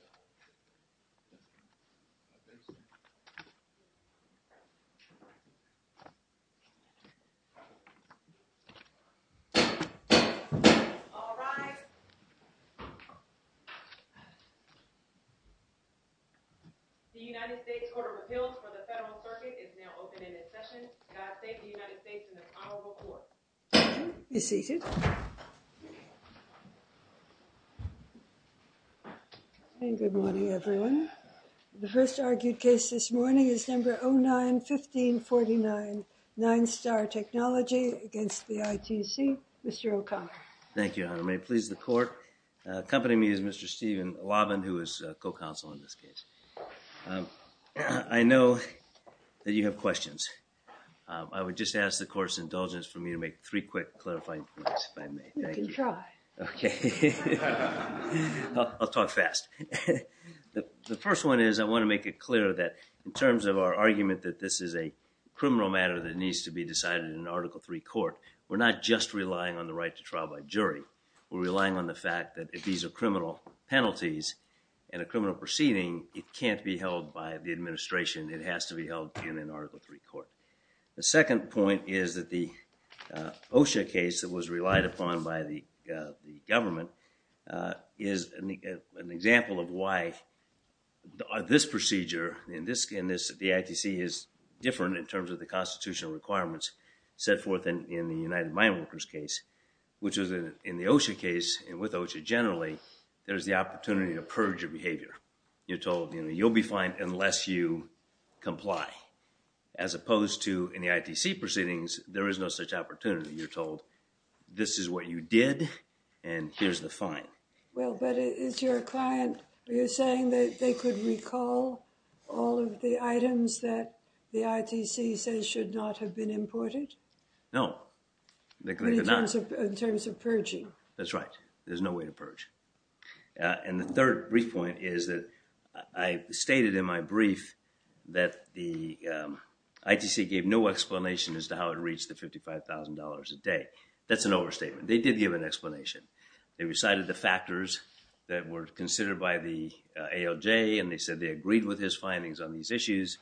TECHNOLOGY v. ITC All rise. The United States Court of Appeals for the Federal Circuit is now open and in session. God save the United States and the probable court. You're seated. Good morning, everyone. The first argued case this morning is No. 09-1549, NINESTAR TECHNOLOGY v. ITC. Mr. O'Connor. Thank you, Your Honor. May it please the court. Accompanying me is Mr. Stephen Lavin, who is co-counsel in this case. I know that you have questions. I would just ask the court's indulgence for me to make three quick, clarifying points, if I may. You can try. Okay. I'll talk fast. The first one is I want to make it clear that in terms of our argument that this is a criminal matter that needs to be decided in an Article III court, we're not just relying on the right to trial by jury. We're relying on the fact that if these are criminal penalties in a criminal proceeding, it can't be held by the administration. It has to be held in an Article III court. The second point is that the OSHA case that was relied upon by the government is an example of why this procedure in this, the ITC is different in terms of the constitutional requirements set forth in the United Mine Workers case, which is in the OSHA case and with OSHA generally, there's the opportunity to purge your behavior. You're told, you know, you'll be fined unless you comply. As opposed to in the ITC proceedings, there is no such opportunity. You're told this is what you did and here's the fine. Well, but is your client, are you saying that they could recall all of the items that the ITC says should not have been imported? No. But in terms of purging? That's right. There's no way to purge. And the third brief point is that I stated in my brief that the ITC gave no explanation as to how it reached the $55,000 a day. That's an overstatement. They did give an explanation. They recited the factors that were considered by the ALJ and they said they agreed with his findings on these issues.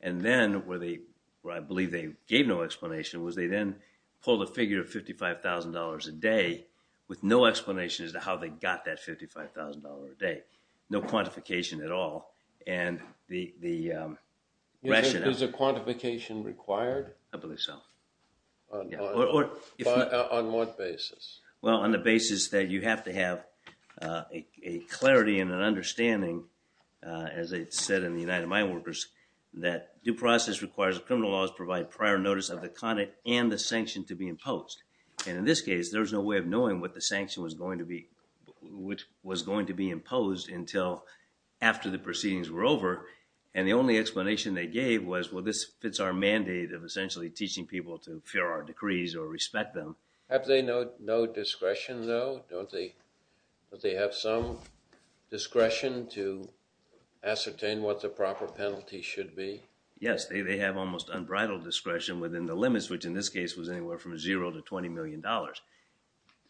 And then where they, where I believe they gave no explanation was they then pulled a figure of $55,000 a day with no explanation as to how they got that $55,000 a day. No quantification at all. And the rationale. Is the quantification required? I believe so. On what basis? Well, on the basis that you have to have a clarity and an understanding, as I said in the United Mine Workers, that due process requires criminal laws provide prior notice of the content and the sanction to be imposed. And in this case, there's no way of knowing what the sanction was going to be, which was going to be imposed until after the proceedings were over. And the only explanation they gave was, well, this fits our mandate of essentially teaching people to fear our decrees or respect them. Have they no discretion, though? Don't they have some discretion to ascertain what the proper penalty should be? Yes, they have almost unbridled discretion within the limits, which in this case was anywhere from $0 to $20 million.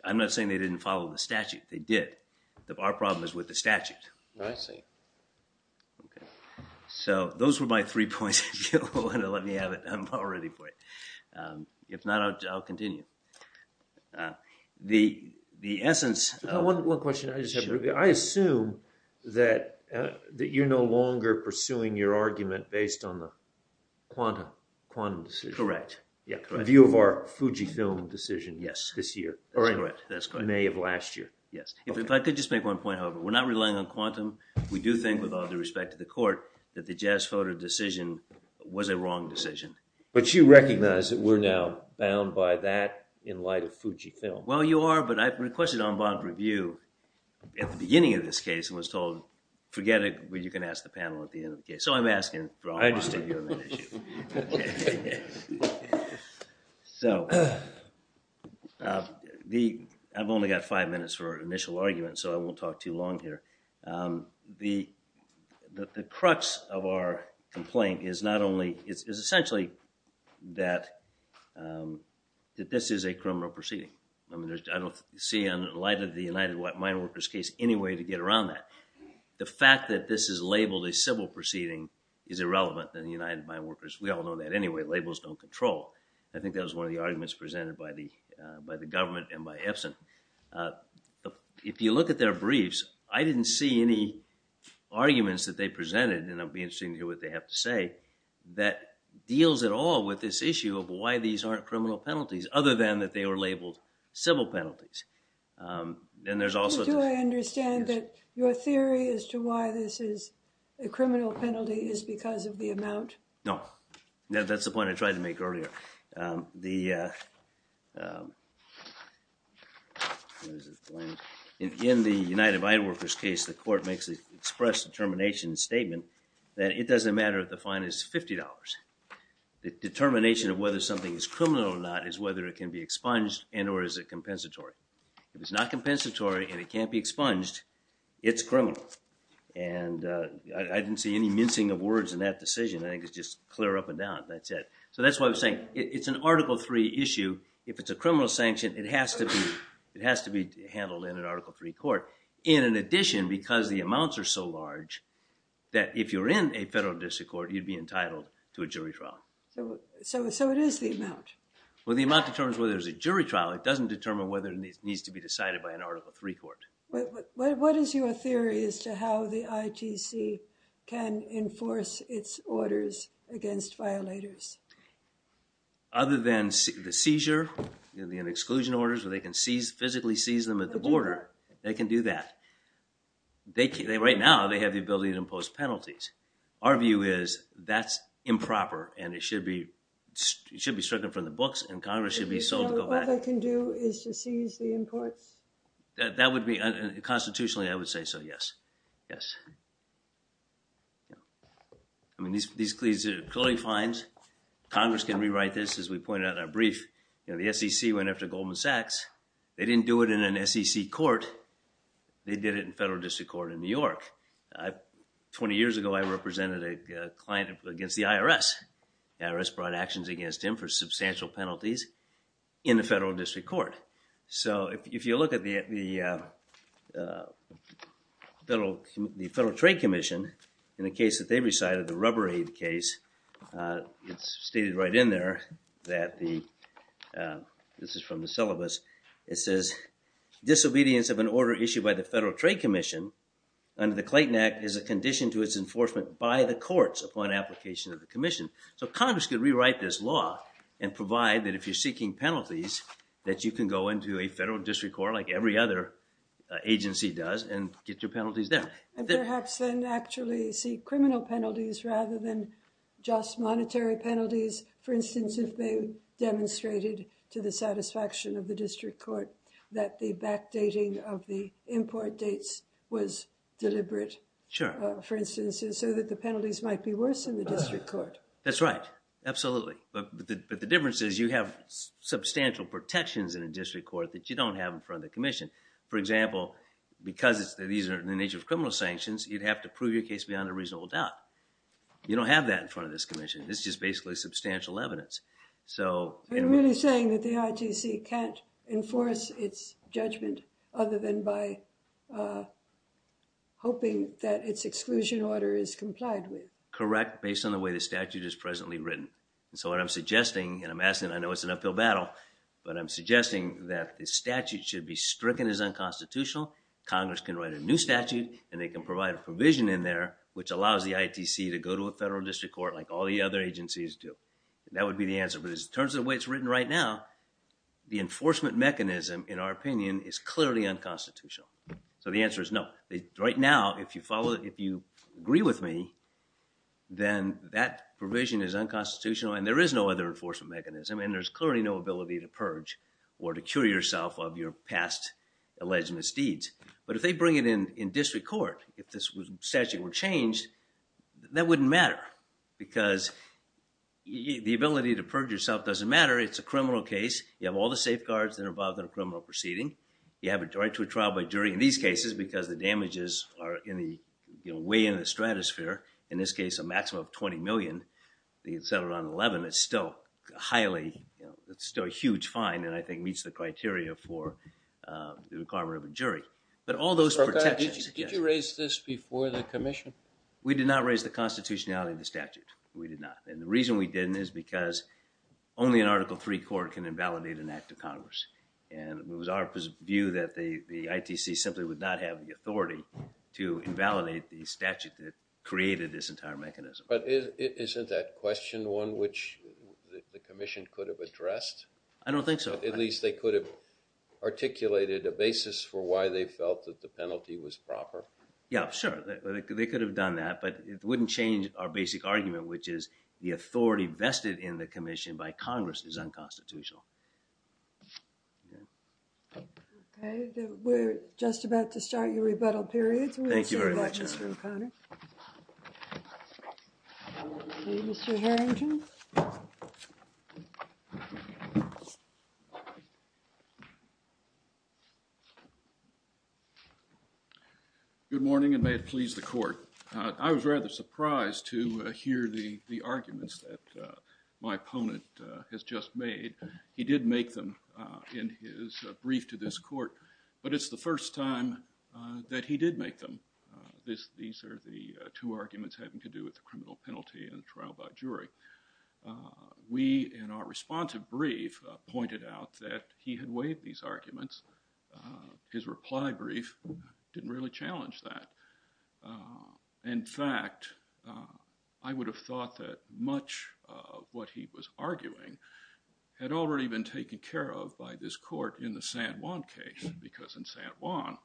I'm not saying they didn't follow the statute. They did. Our problem is with the statute. I see. So those were my three points. Let me have it. I'm all ready for it. If not, I'll continue. The essence of— One question. I assume that you're no longer pursuing your argument based on the Quantum decision. Correct. The view of our Fujifilm decision this year. Yes, that's correct. Or in May of last year. Yes. If I could just make one point, however. We're not relying on Quantum. We do think, with all due respect to the court, that the Jasphoter decision was a wrong decision. But you recognize that we're now bound by that in light of Fujifilm. Well, you are, but I requested en banc review at the beginning of this case and was told, forget it, you can ask the panel at the end of the case. So I'm asking for en banc review. I understand you have an issue. Okay. So, I've only got five minutes for initial argument, so I won't talk too long here. The crux of our complaint is not only— It's essentially that this is a criminal proceeding. I don't see, in light of the United Mine Workers case, any way to get around that. The fact that this is labeled a civil proceeding is irrelevant in the United Mine Workers. We all know that anyway. Labels don't control. I think that was one of the arguments presented by the government and by Epson. If you look at their briefs, I didn't see any arguments that they presented, and it will be interesting to hear what they have to say, that deals at all with this issue of why these aren't criminal penalties, other than that they were labeled civil penalties. And there's also— Do I understand that your theory as to why this is a criminal penalty is because of the amount? No. That's the point I tried to make earlier. The— In the United Mine Workers case, the court makes an express determination statement that it doesn't matter if the fine is $50. The determination of whether something is criminal or not is whether it can be expunged and or is it compensatory. If it's not compensatory and it can't be expunged, it's criminal. And I didn't see any mincing of words in that decision. I think it's just clear up and down. That's it. So that's why I was saying it's an Article III issue. If it's a criminal sanction, it has to be handled in an Article III court. In addition, because the amounts are so large, that if you're in a federal district court, you'd be entitled to a jury trial. So it is the amount. Well, the amount determines whether there's a jury trial. It doesn't determine whether it needs to be decided by an Article III court. What is your theory as to how the ITC can enforce its orders against violators? Other than the seizure, the exclusion orders, where they can physically seize them at the border. They can do that. Right now, they have the ability to impose penalties. Our view is that's improper and it should be stricken from the books and Congress should be sold to go back. All they can do is to seize the imports? Constitutionally, I would say so, yes. Yes. I mean, these cloning fines, Congress can rewrite this, as we pointed out in our brief. The SEC went after Goldman Sachs. They didn't do it in an SEC court. They did it in a federal district court in New York. Twenty years ago, I represented a client against the IRS. The IRS brought actions against him for substantial penalties in a federal district court. If you look at the Federal Trade Commission, in the case that they recited, the rubber aid case, it's stated right in there that the, this is from the syllabus, it says, disobedience of an order issued by the Federal Trade Commission under the Clayton Act is a condition to its enforcement by the courts upon application of the commission. Congress could rewrite this law and provide that if you're seeking penalties, that you can go into a federal district court, like every other agency does, and get your penalties there. And perhaps then actually seek criminal penalties rather than just monetary penalties. For instance, if they demonstrated to the satisfaction of the district court that the backdating of the import dates was deliberate. Sure. For instance, so that the penalties might be worse in the district court. That's right. Absolutely. But the difference is you have substantial protections in a district court that you don't have in front of the commission. For example, because these are in the nature of criminal sanctions, you'd have to prove your case beyond a reasonable doubt. You don't have that in front of this commission. This is just basically substantial evidence. So, You're really saying that the ITC can't enforce its judgment other than by hoping that its exclusion order is complied with. Correct. In fact, based on the way the statute is presently written. And so what I'm suggesting, and I'm asking, I know it's an uphill battle, but I'm suggesting that the statute should be stricken as unconstitutional. Congress can write a new statute and they can provide a provision in there, which allows the ITC to go to a federal district court like all the other agencies do. And that would be the answer. But in terms of the way it's written right now, the enforcement mechanism in our opinion is clearly unconstitutional. So the answer is no. Right now, if you follow, if you agree with me, then that provision is unconstitutional and there is no other enforcement mechanism. And there's clearly no ability to purge or to cure yourself of your past alleged misdeeds. But if they bring it in, in district court, if this statute were changed, that wouldn't matter. Because the ability to purge yourself doesn't matter. It's a criminal case. You have all the safeguards that are involved in a criminal proceeding. You have a right to a trial by jury in these cases, because the damages are in the, you know, way in the stratosphere, in this case, a maximum of 20 million, the settlement on 11, it's still highly, you know, it's still a huge fine. And I think meets the criteria for the requirement of a jury, but all those protections. Did you raise this before the commission? We did not raise the constitutionality of the statute. We did not. And the reason we didn't is because only an article three court can invalidate an act of Congress. And it was our view that the, the ITC simply would not have the authority to invalidate the statute that created this entire mechanism. But isn't that question one, which the commission could have addressed? I don't think so. At least they could have articulated a basis for why they felt that the penalty was proper. Yeah, sure. They could have done that, but it wouldn't change our basic argument, which is the authority vested in the commission by Congress is unconstitutional. Yeah. Okay. We're just about to start your rebuttal period. Thank you. Mr. Harrington. Good morning and may it please the court. I was rather surprised to hear the, the arguments that my opponent has just made. He did make them in his brief to this court, but it's the first time that he did make them. This, these are the two arguments having to do with the criminal penalty and trial by jury. We, in our responsive brief pointed out that he had waived these arguments. His reply brief didn't really challenge that. I would have thought that much of what he was arguing had already been taken care of by this court in the San Juan case, because in San Juan,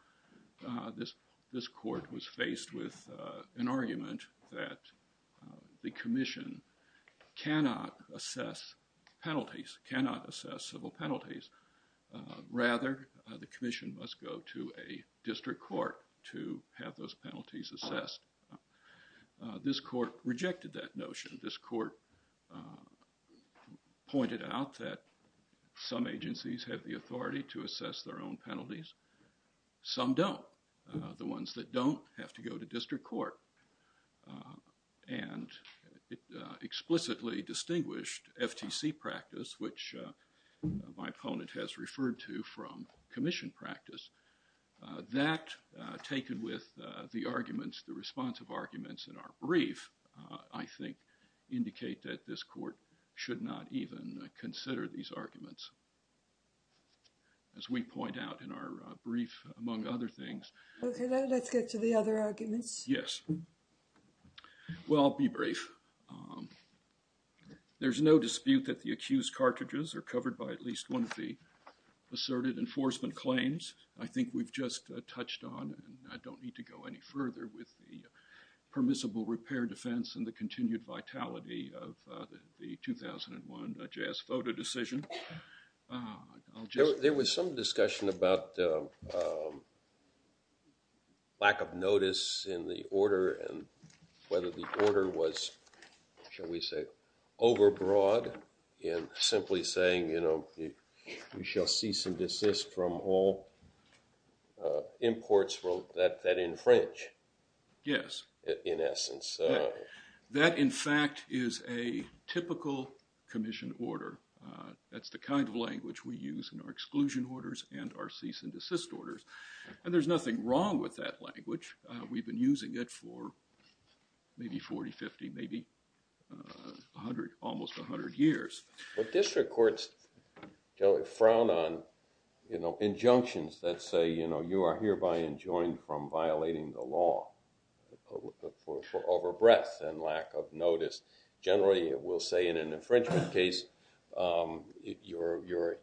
this, this court was faced with an argument that the commission cannot assess penalties, cannot assess civil penalties. Rather, the commission must go to a district court to have those penalties assessed. This court rejected that notion. This court pointed out that some agencies have the authority to assess their own penalties. Some don't. The ones that don't have to go to district court and it explicitly distinguished FTC practice, which my opponent has referred to from commission practice, that taken with the arguments, the responsive arguments in our brief, I think indicate that this court should not even consider these arguments. As we point out in our brief, among other things. Okay, let's get to the other arguments. Yes. Well, I'll be brief. There's no dispute that the accused cartridges are covered by at least one of the asserted enforcement claims. I think we've just touched on and I don't need to go any further with the admissible repair defense and the continued vitality of the 2001 jazz photo decision. There was some discussion about lack of notice in the order and whether the order was, shall we say, overbroad in simply saying, you know, we shall cease and desist from all imports that infringe. Yes. In essence. That, in fact, is a typical commission order. That's the kind of language we use in our exclusion orders and our cease and desist orders. And there's nothing wrong with that language. We've been using it for maybe 40, 50, maybe 100, almost 100 years. But district courts frown on injunctions that say, you know, you are hereby enjoined from violating the law. For over breadth and lack of notice. Generally, it will say in an infringement case, you're, you're,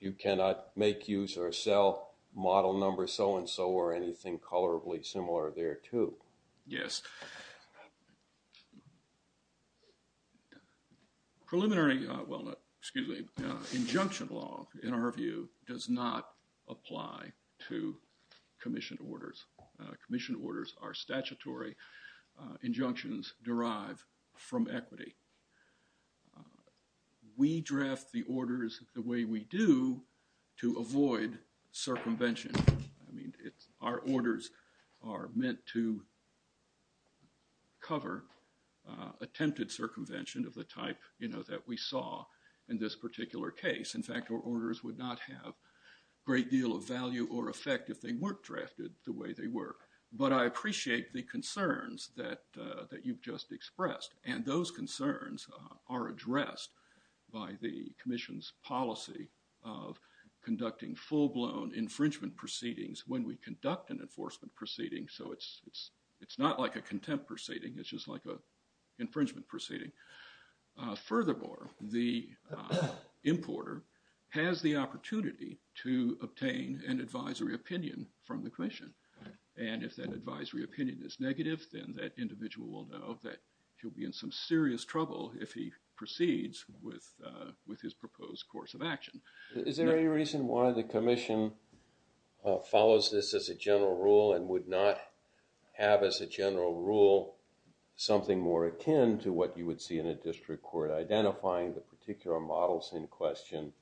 you cannot make use or sell model number so and so or anything colorably similar there too. Yes. Preliminary, well, excuse me, injunction law, in our view, does not apply to commission orders. Commission orders are statutory injunctions derive from equity. We draft the orders the way we do to avoid circumvention. I mean, it's our orders are meant to cover attempted circumvention of the type, you know, that we saw in this particular case. In fact, our orders would not have great deal of value or effect if they weren't drafted the way they work. But I appreciate the concerns that, that you've just expressed. And those concerns are addressed by the commission's policy of conducting full blown infringement proceedings when we conduct an enforcement proceeding. So it's, it's, it's not like a contempt proceeding. It's just like a infringement proceeding. Furthermore, the importer has the opportunity to obtain an advisory opinion from the commission. And if that advisory opinion is negative, then that individual will know that he'll be in some serious trouble if he proceeds with, with his proposed course of action. Is there any reason why the commission follows this as a general rule and would not have as a general rule, something more akin to what you would see in a district court, identifying the particular models in question.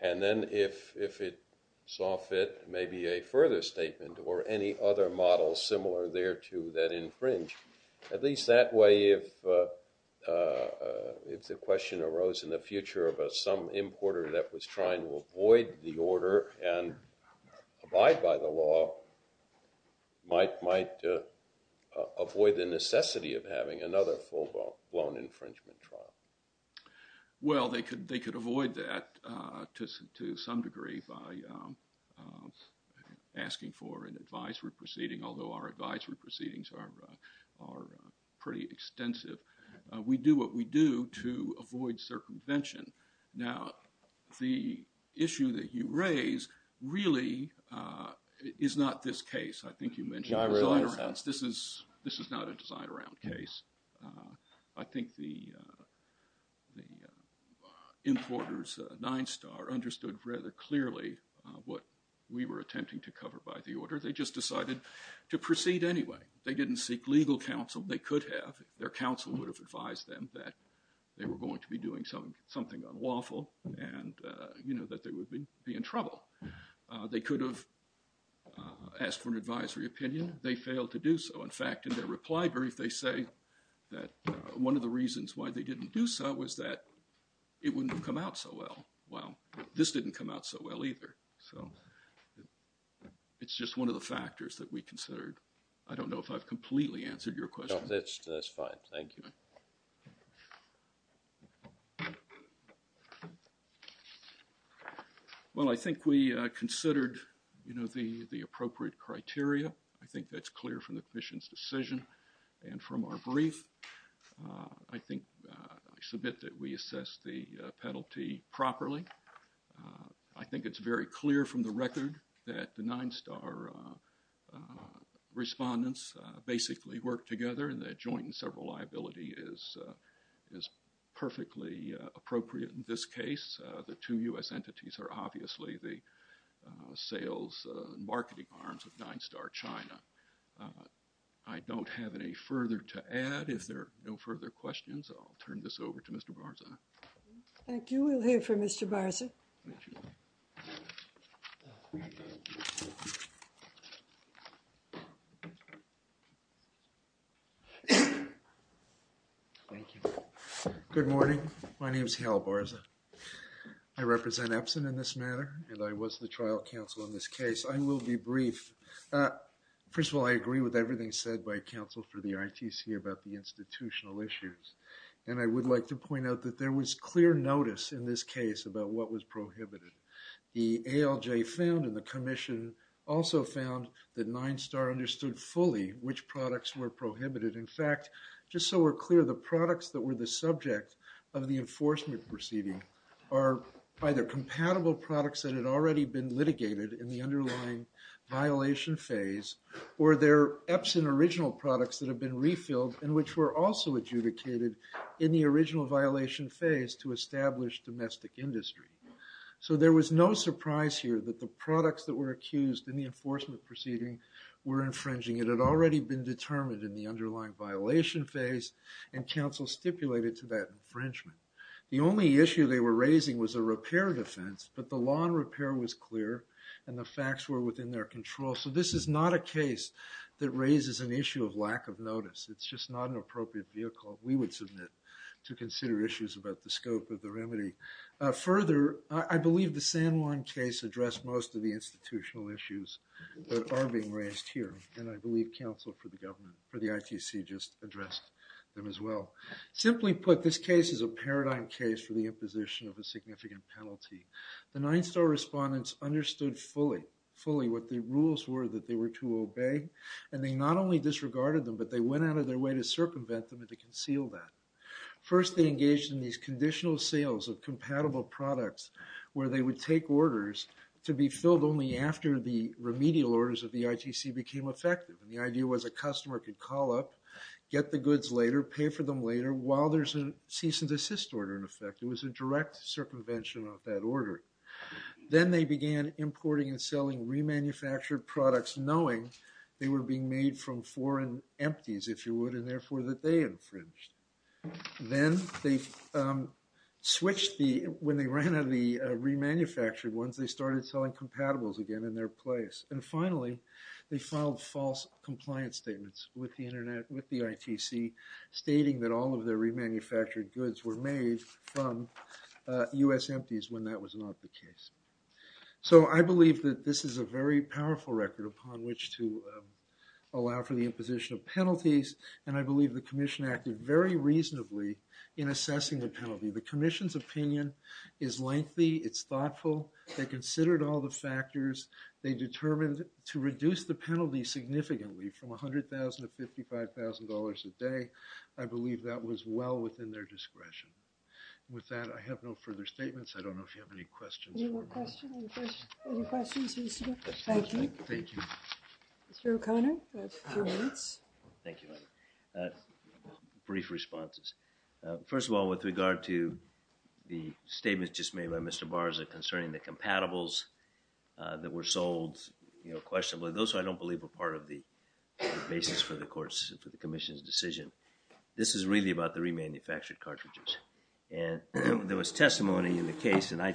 And then if, if it saw fit, maybe a further statement or any other models similar there to that infringe at least that way, if, if the question arose in the future of some importer that was trying to avoid the order and abide by the law might, avoid the necessity of having another full blown, blown infringement trial. Well, they could, they could avoid that to some degree by asking for an advisory proceeding. Although our advisory proceedings are, are pretty extensive. We do what we do to avoid circumvention. Now, the issue that you raise really is not this case. I think you mentioned, this is, this is not a design around case. I think the, the importers nine star understood rather clearly what we were attempting to cover by the order. They just decided to proceed anyway. They didn't seek legal counsel. They could have, their counsel would have advised them that they were going to be doing something, something unlawful and you know, that they would be, be in trouble. They could have asked for an advisory opinion. They failed to do so. In fact, in their reply brief, they say that one of the reasons why they didn't do so was that it wouldn't have come out so well. Well, this didn't come out so well either. So it's just one of the factors that we considered. I don't know if I've completely answered your question. That's fine. Thank you. Well, I think we, uh, considered, you know, the, the appropriate criteria. I think that's clear from the commission's decision and from our brief. Uh, I think, uh, I submit that we assess the, uh, penalty properly. Uh, I think it's very clear from the record that the nine star, uh, uh, respondents, uh, and the point in several liability is, uh, is perfectly, uh, appropriate in this case. Uh, the two U.S. entities are obviously the, uh, sales, uh, marketing arms of nine star China. Uh, I don't have any further to add if there are no further questions, I'll turn this over to Mr. Barza. Thank you. We'll hear from Mr. Barza. Thank you. Thank you. Thank you. Good morning. My name is Hal Barza. I represent Epson in this matter, and I was the trial counsel in this case. I will be brief. Uh, first of all, I agree with everything said by counsel for the RTC about the institutional issues. And I would like to point out that there was clear notice in this case about what was prohibited. The ALJ found in the commission also found that nine star understood which products were prohibited. In fact, just so we're clear, the products that were the subject of the enforcement proceeding are either compatible products that had already been litigated in the underlying violation phase, or their Epson original products that have been refilled and which were also adjudicated in the original violation phase to establish domestic industry. So there was no surprise here that the products that were accused in the enforcement proceeding were infringing. It had already been determined in the underlying violation phase and counsel stipulated to that infringement. The only issue they were raising was a repair defense, but the lawn repair was clear and the facts were within their control. So this is not a case that raises an issue of lack of notice. It's just not an appropriate vehicle. We would submit to consider issues about the scope of the remedy. Further, I believe the San Juan case addressed most of the institutional issues that are being raised here. And I believe counsel for the government for the ITC just addressed them as well. Simply put this case is a paradigm case for the imposition of a significant penalty. The nine star respondents understood fully, fully what the rules were that they were to obey. And they not only disregarded them, but they went out of their way to circumvent them and to conceal that. First they engaged in these conditional sales of compatible products where they would take orders to be filled only after the remedial orders of the ITC became effective. And the idea was a customer could call up, get the goods later, pay for them later while there's a cease and desist order. In effect, it was a direct circumvention of that order. Then they began importing and selling remanufactured products, knowing they were being made from foreign empties, if you would, and therefore that they infringed. Then they switched the, when they ran out of the remanufactured ones, they started selling compatibles again in their place. And finally they filed false compliance statements with the internet, with the ITC stating that all of their remanufactured goods were made from US empties when that was not the case. So I believe that this is a very powerful record upon which to allow for the imposition of penalties. And I believe the commission acted very reasonably in assessing the penalty. The commission's opinion is lengthy. It's thoughtful. They considered all the factors they determined to reduce the penalty significantly from $100,000 to $55,000 a day. I believe that was well within their discretion. With that, I have no further statements. I don't know if you have any questions. Any more questions? Any questions? Thank you. Thank you. Mr. O'Connor, you have a few minutes. Thank you. Brief responses. First of all, with regard to the statements just made by Mr. Barza concerning the compatibles that were sold, you know, questionably, those I don't believe were part of the basis for the court's, for the commission's decision. This is really about the remanufactured cartridges. And there was testimony in the case, and I,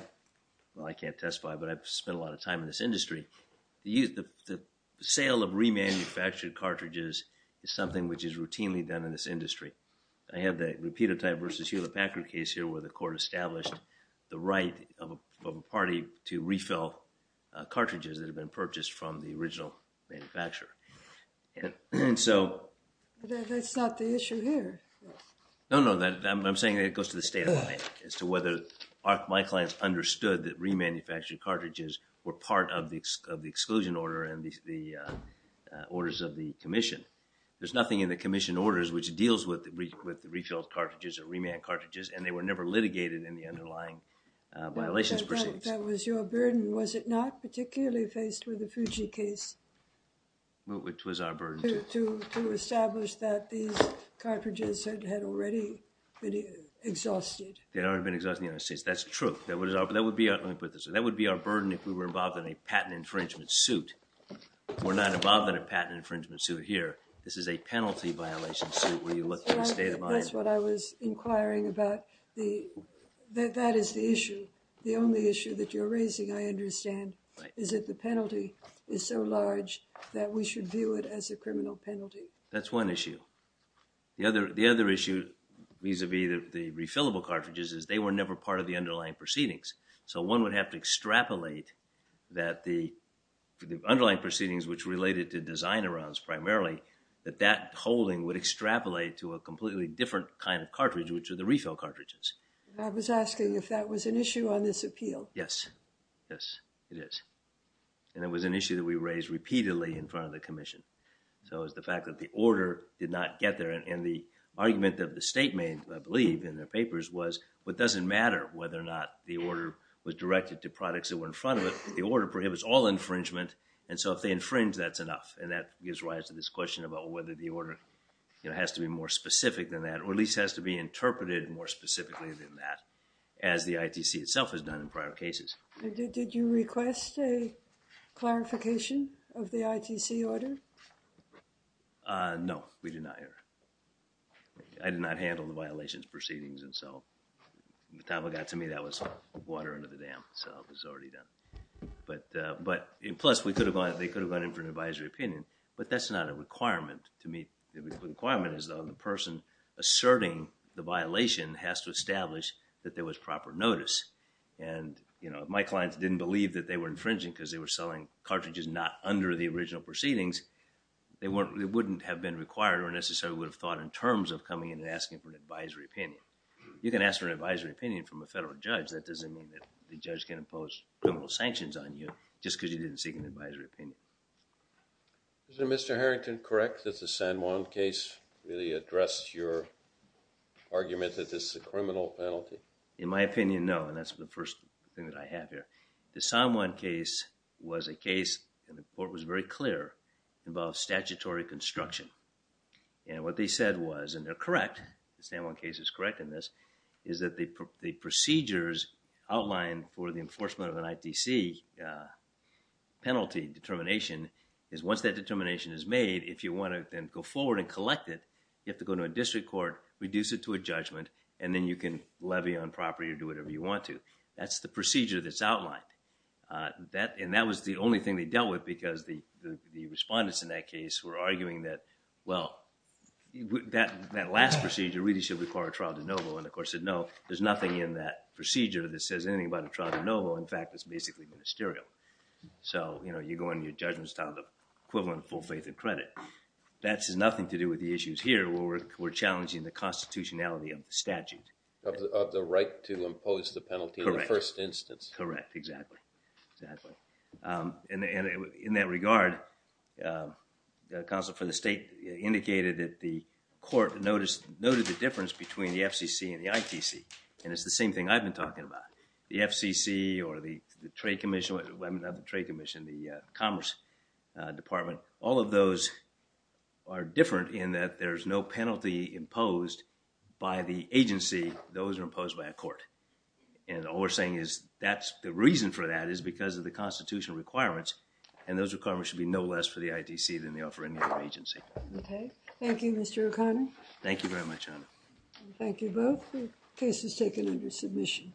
well, I can't testify, but I've spent a lot of time in this industry. The sale of remanufactured cartridges is something which is routinely done in this industry. I have the Rapitotype v. Hewlett-Packard case here where the court established the right of a party to refill cartridges that had been purchased from the original manufacturer. And so... That's not the issue here. No, no. I'm saying it goes to the state of mind as to whether my clients understood that remanufactured cartridges were part of the exclusion order and the orders of the commission. There's nothing in the commission orders which deals with refilled cartridges or reman cartridges, and they were never litigated in the underlying violations proceedings. That was your burden, was it not, particularly faced with the Fuji case? Which was our burden, too. To establish that these cartridges had already been exhausted. They had already been exhausted in the United States. That's true. That would be our burden if we were involved in a patent infringement suit. We're not involved in a patent infringement suit here. This is a penalty violation suit where you look at the state of mind. That's what I was inquiring about. That is the issue. The only issue that you're raising, I understand, is that the penalty is so large that we should view it as a criminal penalty. That's one issue. The other issue, vis-a-vis the refillable cartridges, is they were never part of the underlying proceedings. So one would have to extrapolate that the underlying proceedings, which related to design around primarily, that that holding would extrapolate to a completely different kind of cartridge, which are the refill cartridges. I was asking if that was an issue on this appeal. Yes. Yes, it is. And it was an issue that we raised repeatedly in front of the commission. So it was the fact that the order did not get there. And the argument that the state made, I believe, in their papers, was it doesn't matter whether or not the order was directed to products that were in front of it. The order prohibits all infringement. And so if they infringe, that's enough. And that gives rise to this question about whether the order has to be more specific than that, or at least has to be interpreted more specifically than that, as the ITC itself has done in prior cases. Did you request a clarification of the ITC order? No, we did not. I did not handle the violations proceedings. And so when the time got to me, that was water under the dam. So it was already done. Plus, they could have gone in for an advisory opinion. But that's not a requirement to meet. The requirement is that the person asserting the violation has to establish that there was proper notice. And, you know, if my clients didn't believe that they were infringing because they were selling cartridges not under the original proceedings, they wouldn't have been required or necessarily would have thought in terms of coming in and asking for an advisory opinion. You can ask for an advisory opinion from a federal judge. That doesn't mean that the judge can impose criminal sanctions on you just because you didn't seek an advisory opinion. Is Mr. Harrington correct that the San Juan case really addressed your argument that this is a criminal penalty? In my opinion, no. And that's the first thing that I have here. The San Juan case was a case, and the court was very clear, involved statutory construction. And what they said was, and they're correct, the San Juan case is correct in this, is that the procedures outlined for the enforcement of an ITC penalty determination is once that determination is made, if you want to then go forward and collect it, you have to go to a district court, reduce it to a judgment, and then you can levy on property or do whatever you want to. That's the procedure that's outlined. And that was the only thing they dealt with because the respondents in that case were arguing that, well, that last procedure really should require a trial de novo. And the court said, no, there's nothing in that procedure that says anything about a trial de novo. In fact, it's basically ministerial. So, you know, you go in and your judgment is tied to the equivalent of full faith and credit. That has nothing to do with the issues here where we're challenging the constitutionality of the statute. Of the right to impose the penalty in the first instance. Correct. Exactly. Exactly. And in that regard, the counsel for the state indicated that the court noted the difference between the FCC and the ITC. And it's the same thing I've been talking about. The FCC or the Trade Commission, the Commerce Department, all of those are different in that there's no penalty imposed by the agency. Those are imposed by a court. And all we're saying is that's the reason for that is because of the constitutional requirements. And those requirements should be no less for the ITC than they are for any other agency. Okay. Thank you, Mr. O'Connor. Thank you very much, Honor. Thank you both. The case is taken under submission.